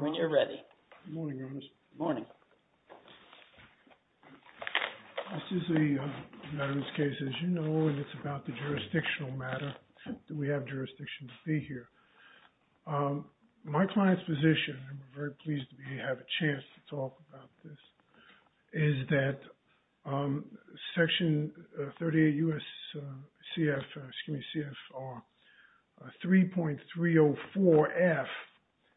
When you're ready, morning, morning, this is the case, as you know, it's about the jurisdictional matter. Do we have jurisdiction to be here? My client's position, and we're very pleased to have a chance to talk about this, is that Section 38 U.S. CFR 3.304F,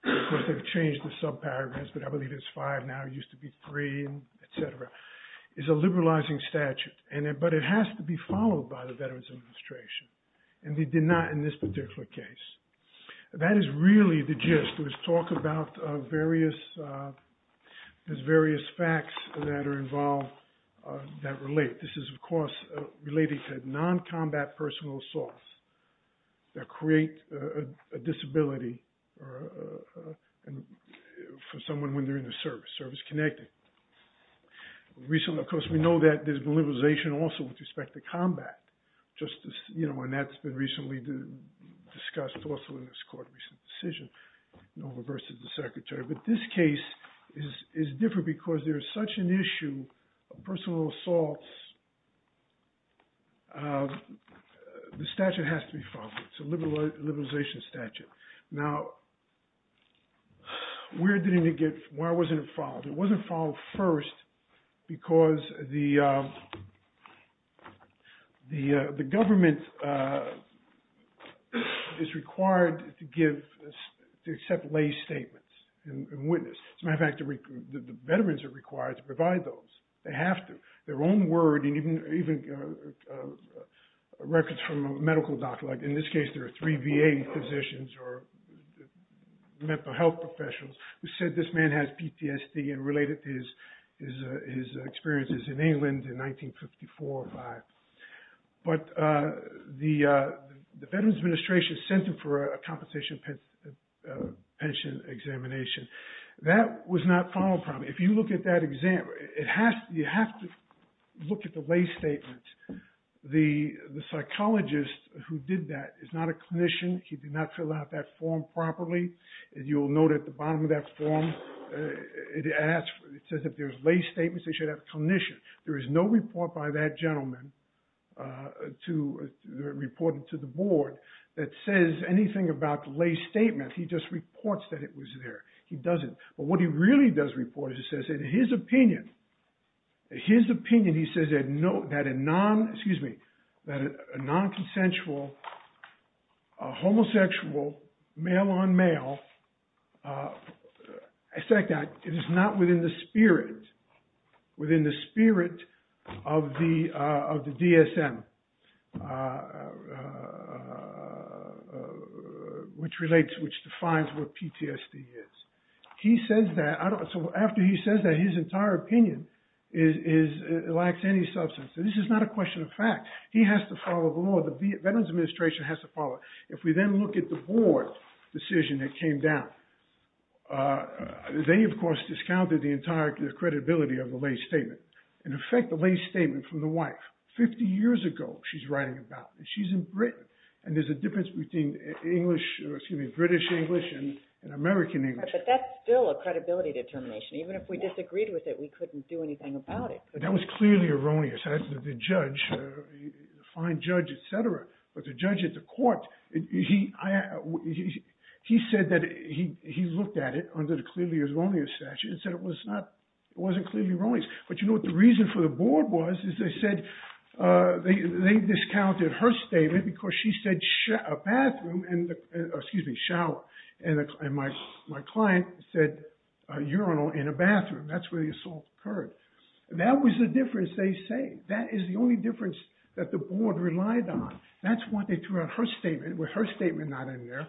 because they've changed the subparagraphs, but I believe it's five now, it used to be three, et cetera, is a liberalizing but it has to be followed by the Veterans Administration, and they did not in this particular case. That is really the gist, to talk about various facts that are involved, that relate. This is, of course, related to non-combat personal assaults that create a disability for someone when they're in the service, service-connected. Recently, of course, we know that there's been liberalization also with respect to combat, and that's been recently discussed also in this court, recent decision, versus the Secretary, but this case is different because there's such an issue of personal assaults, the statute has to be followed, it's a liberalization statute. Now, where did it get, why wasn't it followed? It wasn't followed first because the government is required to give, to accept lay statements and witness, as a matter of fact, the veterans are required to provide those, they have to, their own word, and even records from a medical doctor, like in this case, there are three VA physicians or health professionals who said this man has PTSD and related his experiences in England in 1954 or 5. But the Veterans Administration sent him for a compensation pension examination. That was not followed properly. If you look at that exam, you have to look at the lay statement. The psychologist who did that is not a clinician, he did not fill out that form properly, and you'll note at the bottom of that form, it says if there's lay statements, they should have a clinician. There is no report by that gentleman to report it to the board that says anything about the lay statement, he just reports that it was there, he doesn't. But what he really does report is he says in his opinion, he says that a non-consensual, homosexual, male-on-male, it is not within the spirit of the DSM, which relates, which defines what PTSD is. He says that, so after he says that, his entire opinion is, it lacks any substance. This is not a question of fact. He has to follow the law, the Veterans Administration has to follow. If we then look at the board decision that came down, they of course discounted the entire credibility of the lay statement. In effect, the lay statement from the wife, 50 years ago she's writing about it, she's in Britain, and there's a difference between British English and American English. But that's still a credibility determination, even if we disagreed with it, we couldn't do anything about it. That was clearly erroneous, the judge, fine judge, etc. But the judge at the court, he said that he looked at it under the clearly erroneous. But you know what the reason for the board was, is they said, they discounted her statement because she said a bathroom, excuse me, shower, and my client said a urinal and a bathroom, that's where the assault occurred. That was the difference they say, that is the only difference that the board relied on. That's what they threw out her statement, with her statement not in there,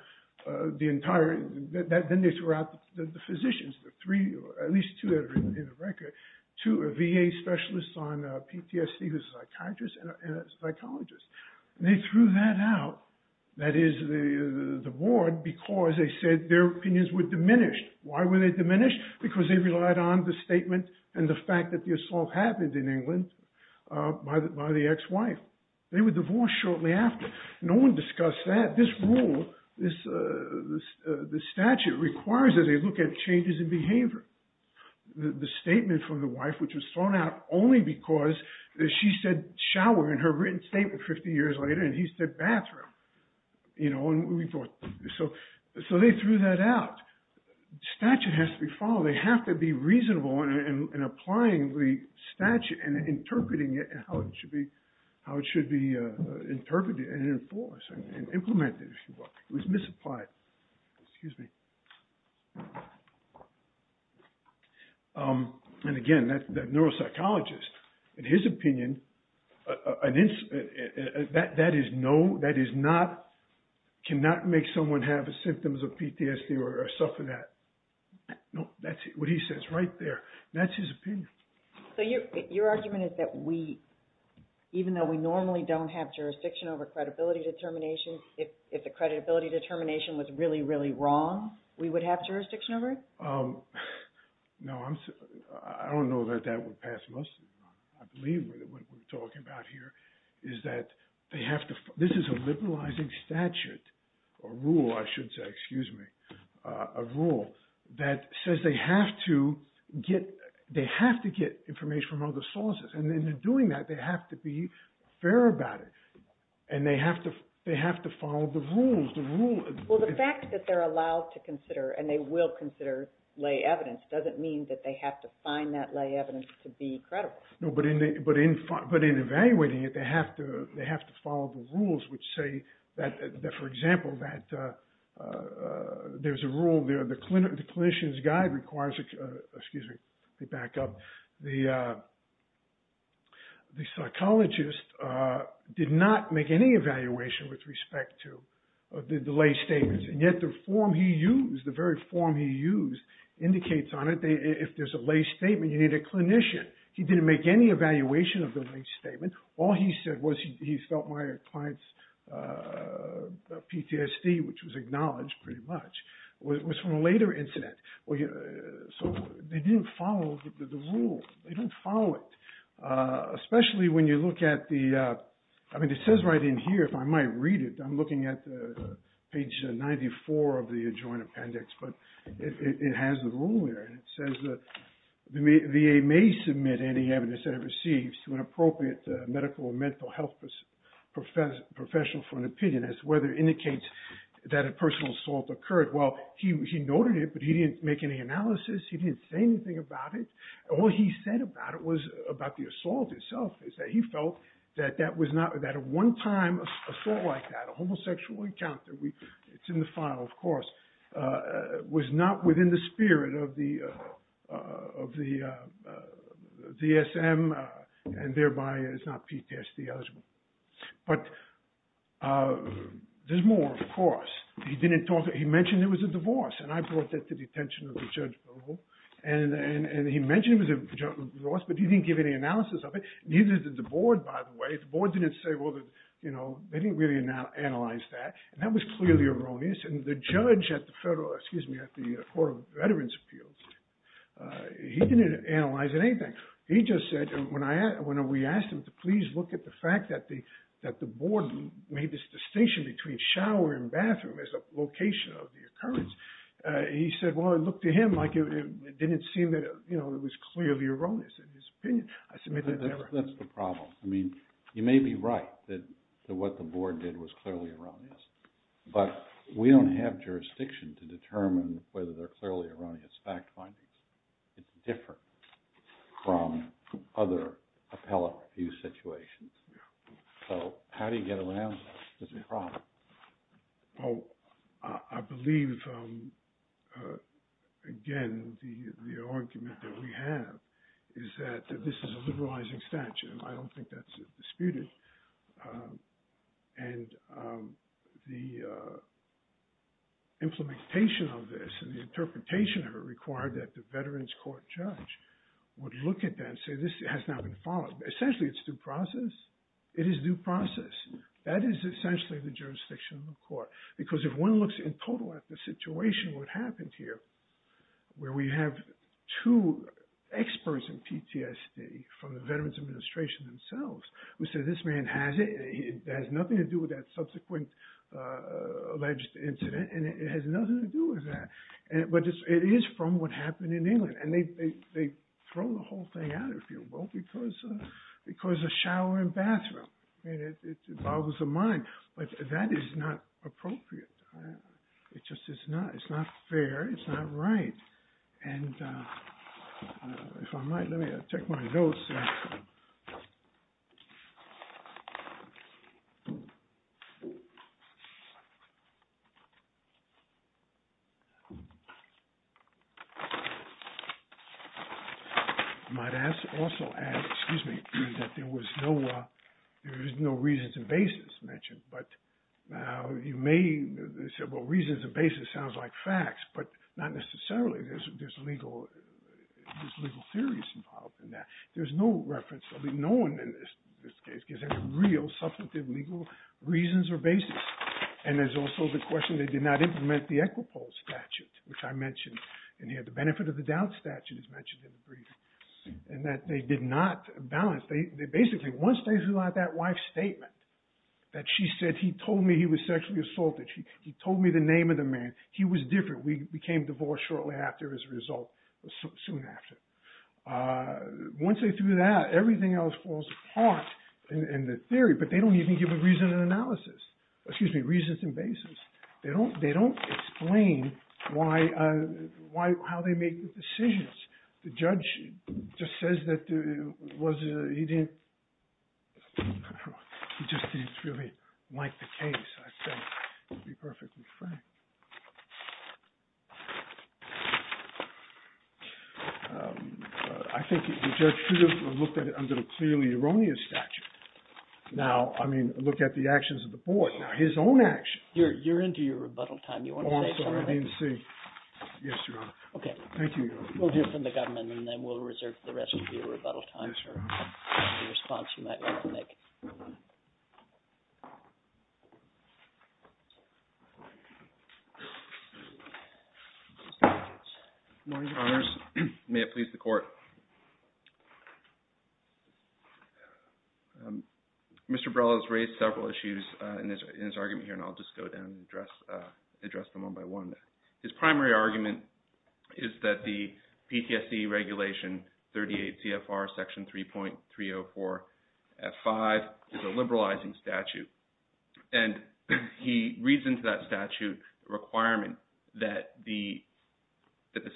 the entire, then they threw out the physicians, the three, at least two in the record, two are VA specialists on PTSD who's a psychiatrist and a psychologist. And they threw that out, that is the board, because they said their opinions were diminished. Why were they diminished? Because they relied on the statement and the fact that the assault happened in England by the ex-wife. They were divorced shortly after. No one discussed that. This rule, the statute requires that they look at changes in behavior. The statement from the wife, which was thrown out only because she said shower in her written statement 50 years later and he said bathroom, you know, and we thought, so they threw that out. Statute has to be followed, they have to be reasonable in applying the statute and interpreting it and how it should be interpreted and enforced and implemented, if you will. It was misapplied. Excuse me. And again, that neuropsychologist, in his opinion, that is no, that is not, cannot make someone have symptoms of PTSD or suffer that. No, that's what he says right there. That's his opinion. So your argument is that we, even though we normally don't have jurisdiction over credibility determination, if the credibility determination was really, really wrong, we would have jurisdiction over it? No, I don't know that that would pass. I believe what we're talking about here is that they have to, this is a liberalizing statute or rule, I should say, excuse me, a rule that says they have to get, they have to get information from other sources. And then in doing that, they have to be fair about it. And they have to, they have to follow the rules. Well, the fact that they're allowed to consider and they will consider lay evidence doesn't mean that they have to find that lay evidence to be credible. No, but in evaluating it, they have to follow the rules, which say that, for example, that there's a rule there, the clinician's guide requires, excuse me, let me back up, the psychologist did not make any evaluation with respect to the lay statements. And yet the form he used, the very form he used indicates on it, if there's a lay statement, you need a clinician. He didn't make any evaluation of the lay statement. All he said was he felt my client's PTSD, which was acknowledged pretty much, was from a later incident. So they didn't follow the rule. They don't follow it. Especially when you look at the, I mean, it says right in here, if I might read it, I'm looking at page 94 of the adjoined appendix, but it has the rule there. And it says that the VA may submit any evidence that it receives to an appropriate medical or mental health professional for an opinion as to whether it indicates that a personal assault occurred. Well, he noted it, but he didn't make any analysis. He didn't say anything about it. All he said about it was about the assault itself is that he felt that that was not, that a one-time assault like that, a homosexual encounter, it's in the file, of course, was not within the spirit of the DSM and thereby is not PTSD eligible. But there's more, of course. He didn't talk, he mentioned it was a divorce, and I brought that to the attention of the judge and he mentioned it was a divorce, but he didn't give any analysis of it. Neither did the board, by the way. The board didn't say, well, you know, they didn't really analyze that, and that was clearly erroneous. And the judge at the federal, excuse me, at the Court of Veterans Appeals, he didn't analyze anything. He just said, when we asked him to please look at the fact that the board made this distinction between shower and bathroom as a location of the occurrence, he said, well, it looked to him like it didn't seem that it was clearly erroneous in his opinion. That's the problem. I mean, you may be right that what the board did was clearly erroneous, but we don't have jurisdiction to determine whether they're clearly erroneous fact findings. It's different from other appellate review situations. So how do you get around this problem? Well, I believe, again, the argument that we have is that this is a liberalizing statute, and I don't think that's disputed. And the implementation of this and the interpretation of it required that the veterans court judge would look at that and say, this has not been followed. Essentially, it's due process. It is due process. That is essentially the jurisdiction of the court. Because if one looks in total at the situation what happened here, where we have two experts in PTSD from the Veterans Administration themselves who said, this man has it. It has nothing to do with that subsequent alleged incident, and it has nothing to do with that. But it is from what happened in England. And they throw the whole thing out, if you will, because of shower and bathroom. It boggles the mind. That is not appropriate. It's not fair. It's not right. And if I might, I'll check my notes. You might also add, excuse me, that there is no reasons and basis mentioned. But you may say, well, reasons and basis sounds like facts, but not necessarily. There's legal theories involved in that. There's no reference. No one in this case gives any real substantive legal reasons or basis. And there's also the question they did not implement the Equipol statute, which I mentioned in here. The benefit of the doubt statute is mentioned in the brief. And that they did not balance. Basically, once they threw out that wife's statement that she said he told me he was sexually assaulted, he told me the name of the man, he was different. We became divorced shortly after as a result, soon after. Once they threw that, everything else falls apart in the theory. But they don't even give a reason and analysis, excuse me, reasons and basis. They don't explain why, how they make the decisions. The judge just says that he didn't, he just didn't really like the case, I think, to be perfectly frank. I think the judge should have looked at it under the clearly erroneous statute. Now, I mean, look at the actions of the board. Now, his own actions. You're into your rebuttal time. You want to say something? Oh, I'm sorry. I didn't see. Yes, Your Honor. Okay. Thank you, Your Honor. We'll hear from the government and then we'll reserve the rest of your rebuttal time for the response you might like to make. Good morning, Your Honors. May it please the Court. Mr. Brella has raised several issues in his argument here and I'll just go down and address them one by one. His primary argument is that the PTSD Regulation 38 CFR Section 3.304 F5 is a liberalizing statute. And he reasons that statute requirement that the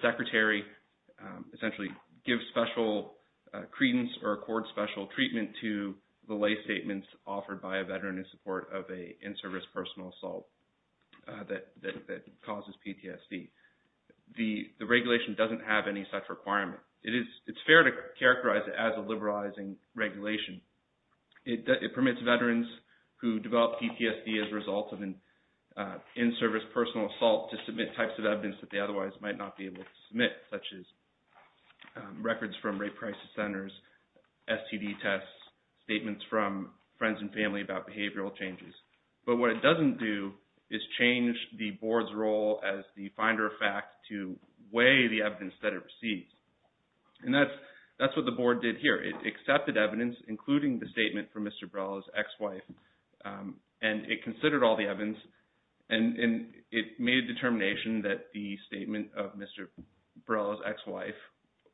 Secretary essentially gives special credence or accord special treatment to the lay statements offered by a veteran in support of an in-service personal assault that causes PTSD. The regulation doesn't have any such requirement. It's fair to characterize it as a liberalizing regulation. It permits veterans who develop PTSD as a result of an in-service personal assault to submit types of evidence that they otherwise might not be able to submit such as changes. But what it doesn't do is change the Board's role as the finder of fact to weigh the evidence that it receives. And that's what the Board did here. It accepted evidence, including the statement from Mr. Brella's ex-wife and it considered all the evidence and it made a determination that the statement of Mr. Brella's ex-wife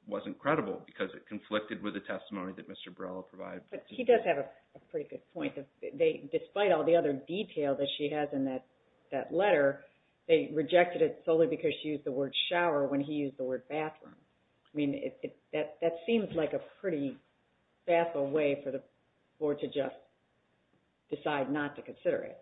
wasn't credible because it conflicted with the testimony that Mr. Brella provided. He does have a pretty good point. Despite all the other detail that she has in that letter, they rejected it solely because she used the word shower when he used the word bathroom. That seems like a pretty baffling way for the Board to just decide not to consider it.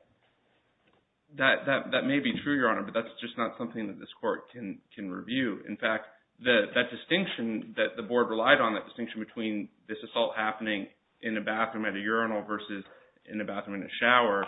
That may be true, Your Honor, but that's just not something that this Court can review. In fact, that distinction that the Board relied on, that distinction between this assault happening in a bathroom at a urinal versus in a bathroom in a shower,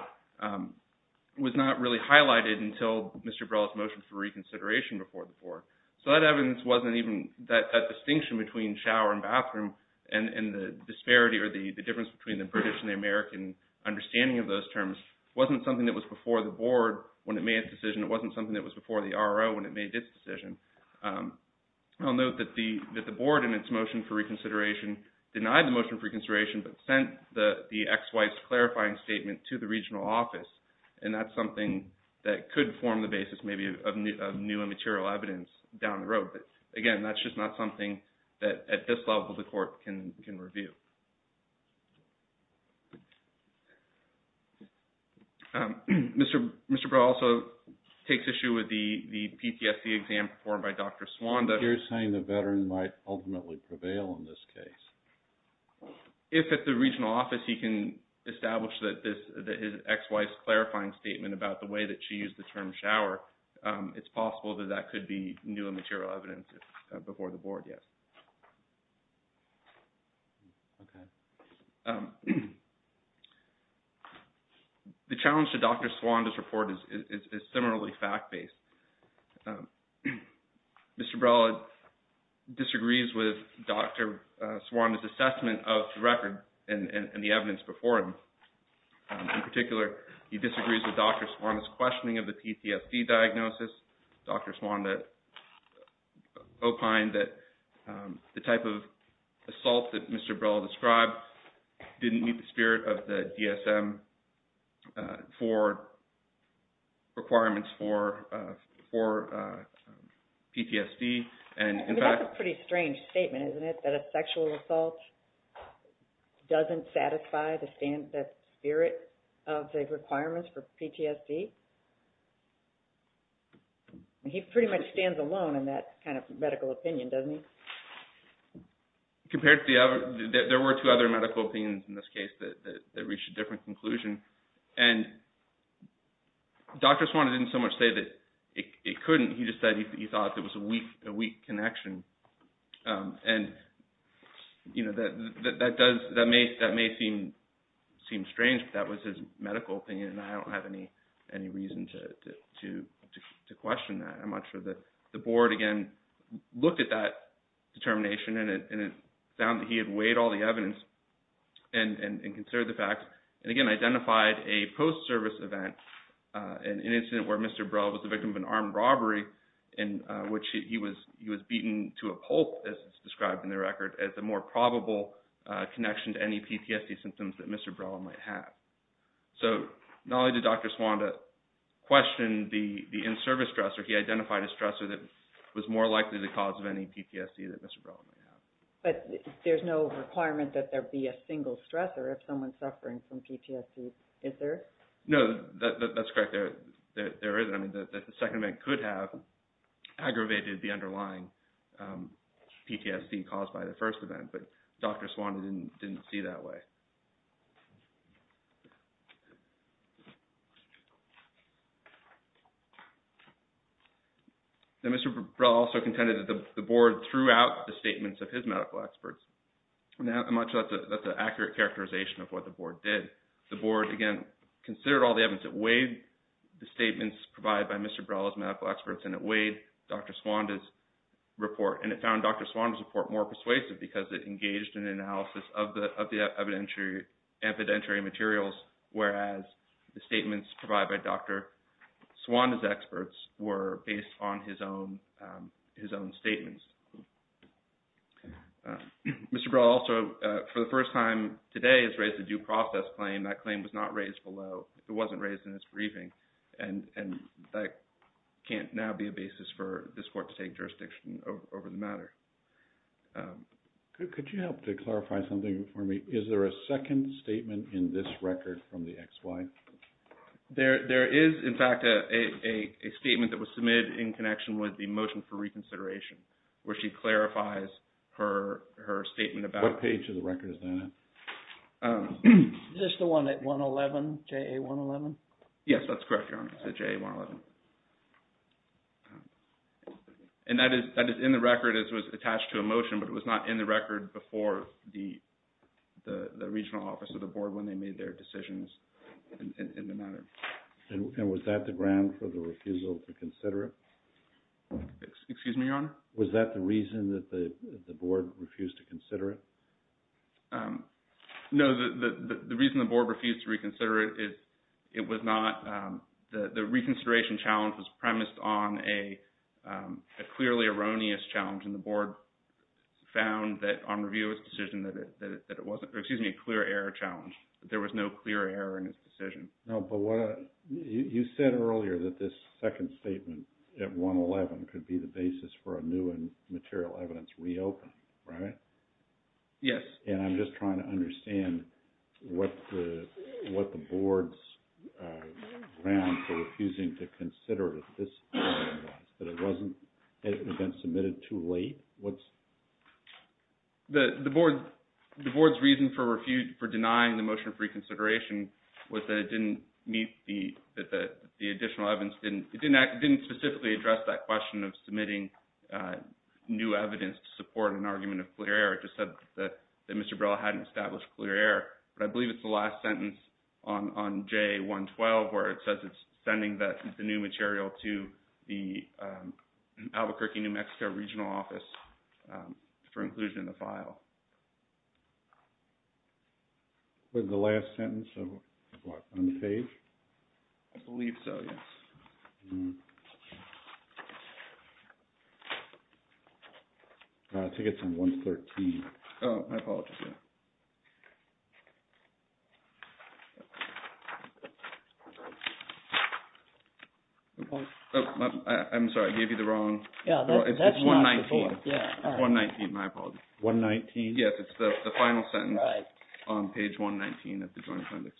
was not really highlighted until Mr. Brella's motion for reconsideration before the Board. So that evidence wasn't even that distinction between shower and bathroom and the disparity or the difference between the British and the American understanding of those terms wasn't something that was before the Board when it made its decision. It wasn't something that was before the RRO when it made its decision. I'll note that the Board in its motion for reconsideration denied the motion for reconsideration but sent the ex-wife's clarifying statement to the regional office, and that's something that could form the basis maybe of new and material evidence down the road. But again, that's just not something that at this level the Court can review. Mr. Brella also takes issue with the PTSD exam performed by Dr. Suanda. You're saying the veteran might ultimately prevail in this case. If at the regional office he can establish that his ex-wife's clarifying statement about the way that she used the term shower, it's possible that that could be new and material evidence before the Board, yes. The challenge to Dr. Suanda's report is similarly fact-based. Mr. Brella disagrees with Dr. Suanda's assessment of the record and the evidence before him. In particular, he disagrees with Dr. Suanda's questioning of the PTSD diagnosis. Dr. Suanda opined that the type of assault that Mr. Brella described didn't meet the spirit of the DSM for requirements for PTSD. And that's a pretty strange statement, isn't it, that a sexual assault doesn't satisfy the spirit of the requirements for PTSD? He pretty much stands alone in that kind of medical opinion, doesn't he? There were two other medical opinions in this case that reached a different conclusion. And Dr. Suanda didn't so much say that it couldn't, he just said he thought it was a weak connection. And that may seem strange, but that was his medical opinion and I don't have any reason to question that. I'm not sure that the Board, again, looked at that determination and it found that he had weighed all the evidence and considered the fact. And again, identified a post-service event, an incident where Mr. Brella was the victim of an armed robbery in which he was beaten to a pulp, as it's described in the record, as the more probable connection to any PTSD symptoms that Mr. Brella might have. So not only did Dr. Suanda question the in-service stressor, he identified a stressor that was more likely the cause of any PTSD that Mr. Brella might have. But there's no requirement that there be a single stressor if someone's suffering from PTSD, is there? No, that's correct. There isn't. I mean, the second event could have aggravated the underlying PTSD caused by the first event, but Dr. Suanda didn't see that way. Now, Mr. Brella also contended that the Board threw out the statements of his medical experts. Now, I'm not sure that's an accurate characterization of what the Board did. The Board, again, considered all the evidence, it weighed the statements provided by Mr. Brella's medical experts, and it weighed Dr. Suanda's report, and it found Dr. Suanda's report more persuasive because it engaged in analysis of the evidentiary materials, whereas the statements provided by Dr. Suanda's experts were based on his own statements. Mr. Brella also, for the first time today, has raised a due process claim. That claim was not raised in this briefing, and that can't now be a basis for this Court to take jurisdiction over the matter. Could you help to clarify something for me? Is there a second statement in this record from the XY? There is, in fact, a statement that was submitted in connection with the motion for reconsideration, where she clarifies her statement about... What page of the record is that? Is this the one at 111, JA111? Yes, that's correct, Your Honor. It's at JA111. And that is in the record. It was attached to a motion, but it was not in the record before the Regional Office of the Board when they made their decisions in the matter. And was that the ground for the refusal to consider it? Excuse me, Your Honor? Was that the reason that the Board refused to consider it? No, the reason the Board refused to reconsider it, it was not... The reconsideration challenge was premised on a clearly erroneous challenge, and the Board found that on review of its decision that it wasn't... Excuse me, a clear error challenge. There was no clear error in its decision. No, but you said earlier that this second statement at 111 could be the basis for a new and material evidence reopen, right? Yes. And I'm just trying to understand what the Board's ground for refusing to consider it at this point was, that it wasn't... That it had been submitted too late? The Board's reason for denying the motion of reconsideration was that it didn't meet the additional evidence... It didn't specifically address that question of submitting a new evidence to support an argument of clear error. It just said that Mr. Brella hadn't established clear error. But I believe it's the last sentence on J112 where it says it's sending the new material to the Albuquerque, New Mexico Regional Office for inclusion in the file. Was the last sentence of what, on the page? I believe so, yes. I think it's on 113. Oh, my apologies, yeah. Oh, I'm sorry, I gave you the wrong... Yeah, that's not the one. It's 119, 119, my apologies. 119? Yes, it's the final sentence on page 119 of the Joint Appendix.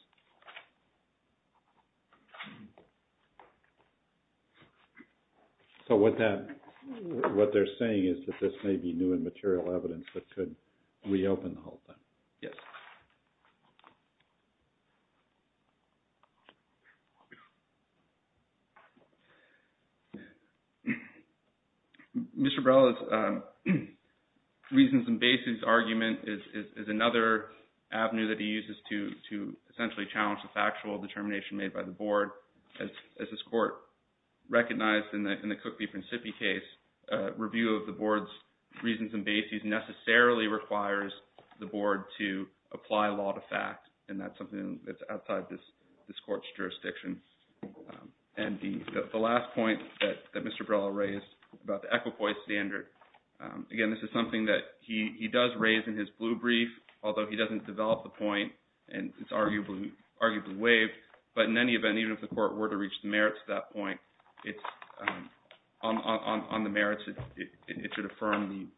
So, what they're saying is that this may be new and material evidence that could reopen the whole thing? Yes. Mr. Brella's reasons and basis argument is another avenue that he uses to essentially challenge the factual determination made by the Board. As this Court recognized in the Cook v. Principi case, review of the Board's reasons and basis necessarily requires the Board to apply law to fact, and that's something that's outside this Court's jurisdiction. And the last point that Mr. Brella raised about the equipoise standard, again, this is something that he does raise in his blue brief, although he doesn't develop the point, and it's arguably waived. But in any event, even if the Court were to reach the merits at that point, on the merits, it should affirm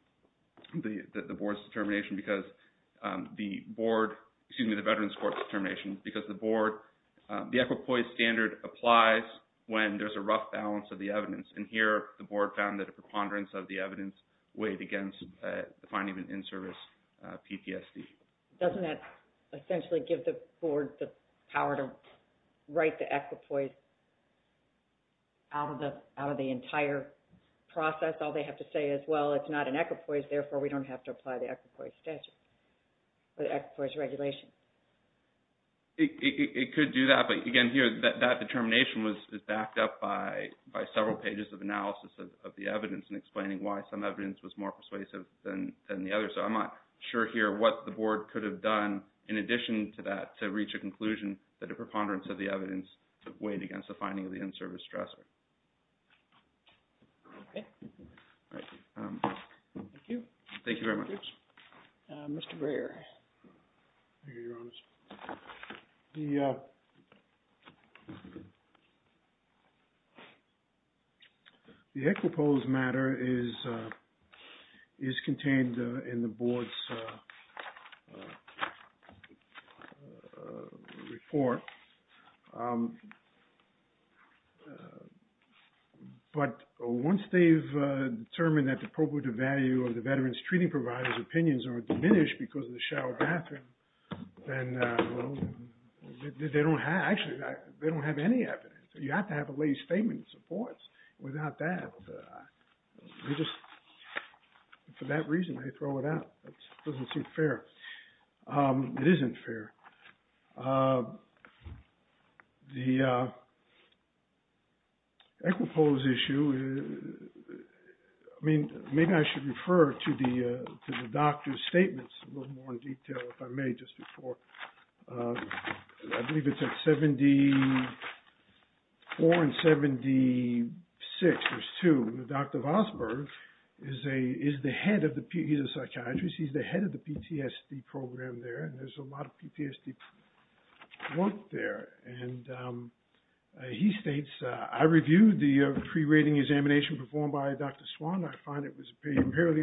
the Board's determination, because the Board, excuse me, the Veterans Court's determination, because the Board, the equipoise standard applies when there's a rough balance of the evidence. And here, the Board found that a preponderance of the evidence weighed against the finding of an in-service PTSD. Doesn't that essentially give the Board the power to write the equipoise out of the entire process? All they have to say is, well, it's not an equipoise, therefore we don't have to apply the equipoise statute or the equipoise regulation. It could do that. But again, here, that determination is backed up by several pages of analysis of the evidence and explaining why some evidence was more persuasive than the other. So I'm not sure here what the Board could have done in addition to that, to reach a conclusion that a preponderance of the evidence weighed against the finding of the in-service stressor. Okay. All right. Thank you. Thank you very much. Mr. Breyer. Thank you, Your Honors. The equipoise matter is contained in the Board's report. But once they've determined that the probative value of the veteran's treating provider's opinions are diminished because of the shower bathroom, then they don't have, actually, they don't have any evidence. You have to have a lay statement of support. Without that, they just, for that reason, they throw it out. It doesn't seem fair. It isn't fair. The equipoise issue, I mean, maybe I should refer to the doctor's statements a little before. I believe it's at 74 and 76. There's two. Dr. Vosburgh is the head of the, he's a psychiatrist. He's the head of the PTSD program there. And there's a lot of PTSD work there. And he states, I reviewed the pre-rating examination performed by Dr. Swan. I find it was apparently,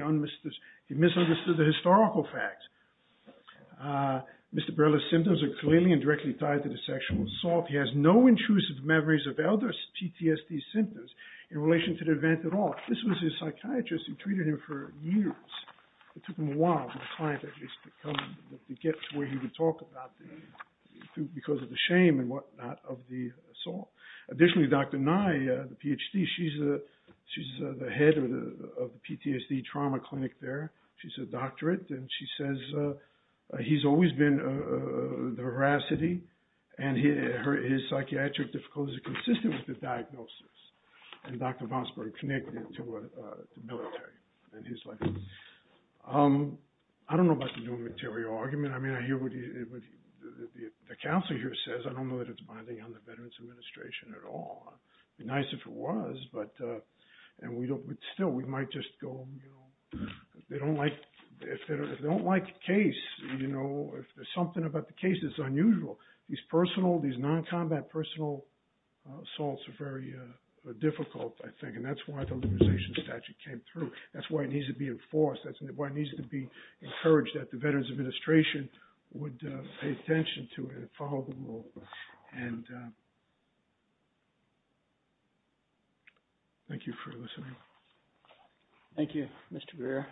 he misunderstood the historical facts. Mr. Barilla's symptoms are clearly and directly tied to the sexual assault. He has no intrusive memories of other PTSD symptoms in relation to the event at all. This was his psychiatrist who treated him for years. It took him a while for the client, at least, to get to where he would talk about because of the shame and whatnot of the assault. Additionally, Dr. Nye, the PhD, she's the head of the PTSD trauma clinic there. She's a doctorate. And she says he's always been the veracity. And his psychiatric difficulties are consistent with the diagnosis. And Dr. Vosburgh connected to the military in his life. I don't know about the new material argument. I mean, I hear what the counselor here says. I don't know that it's binding on the Veterans Administration at all. It'd be nice if it was. And still, we might just go, you know, if they don't like the case, you know, if there's something about the case that's unusual, these non-combat personal assaults are very difficult, I think. And that's why the legalization statute came through. That's why it needs to be enforced. That's why it needs to be encouraged that the Veterans Administration would pay attention to it and follow the rule. And thank you for listening. Thank you, Mr. Greer.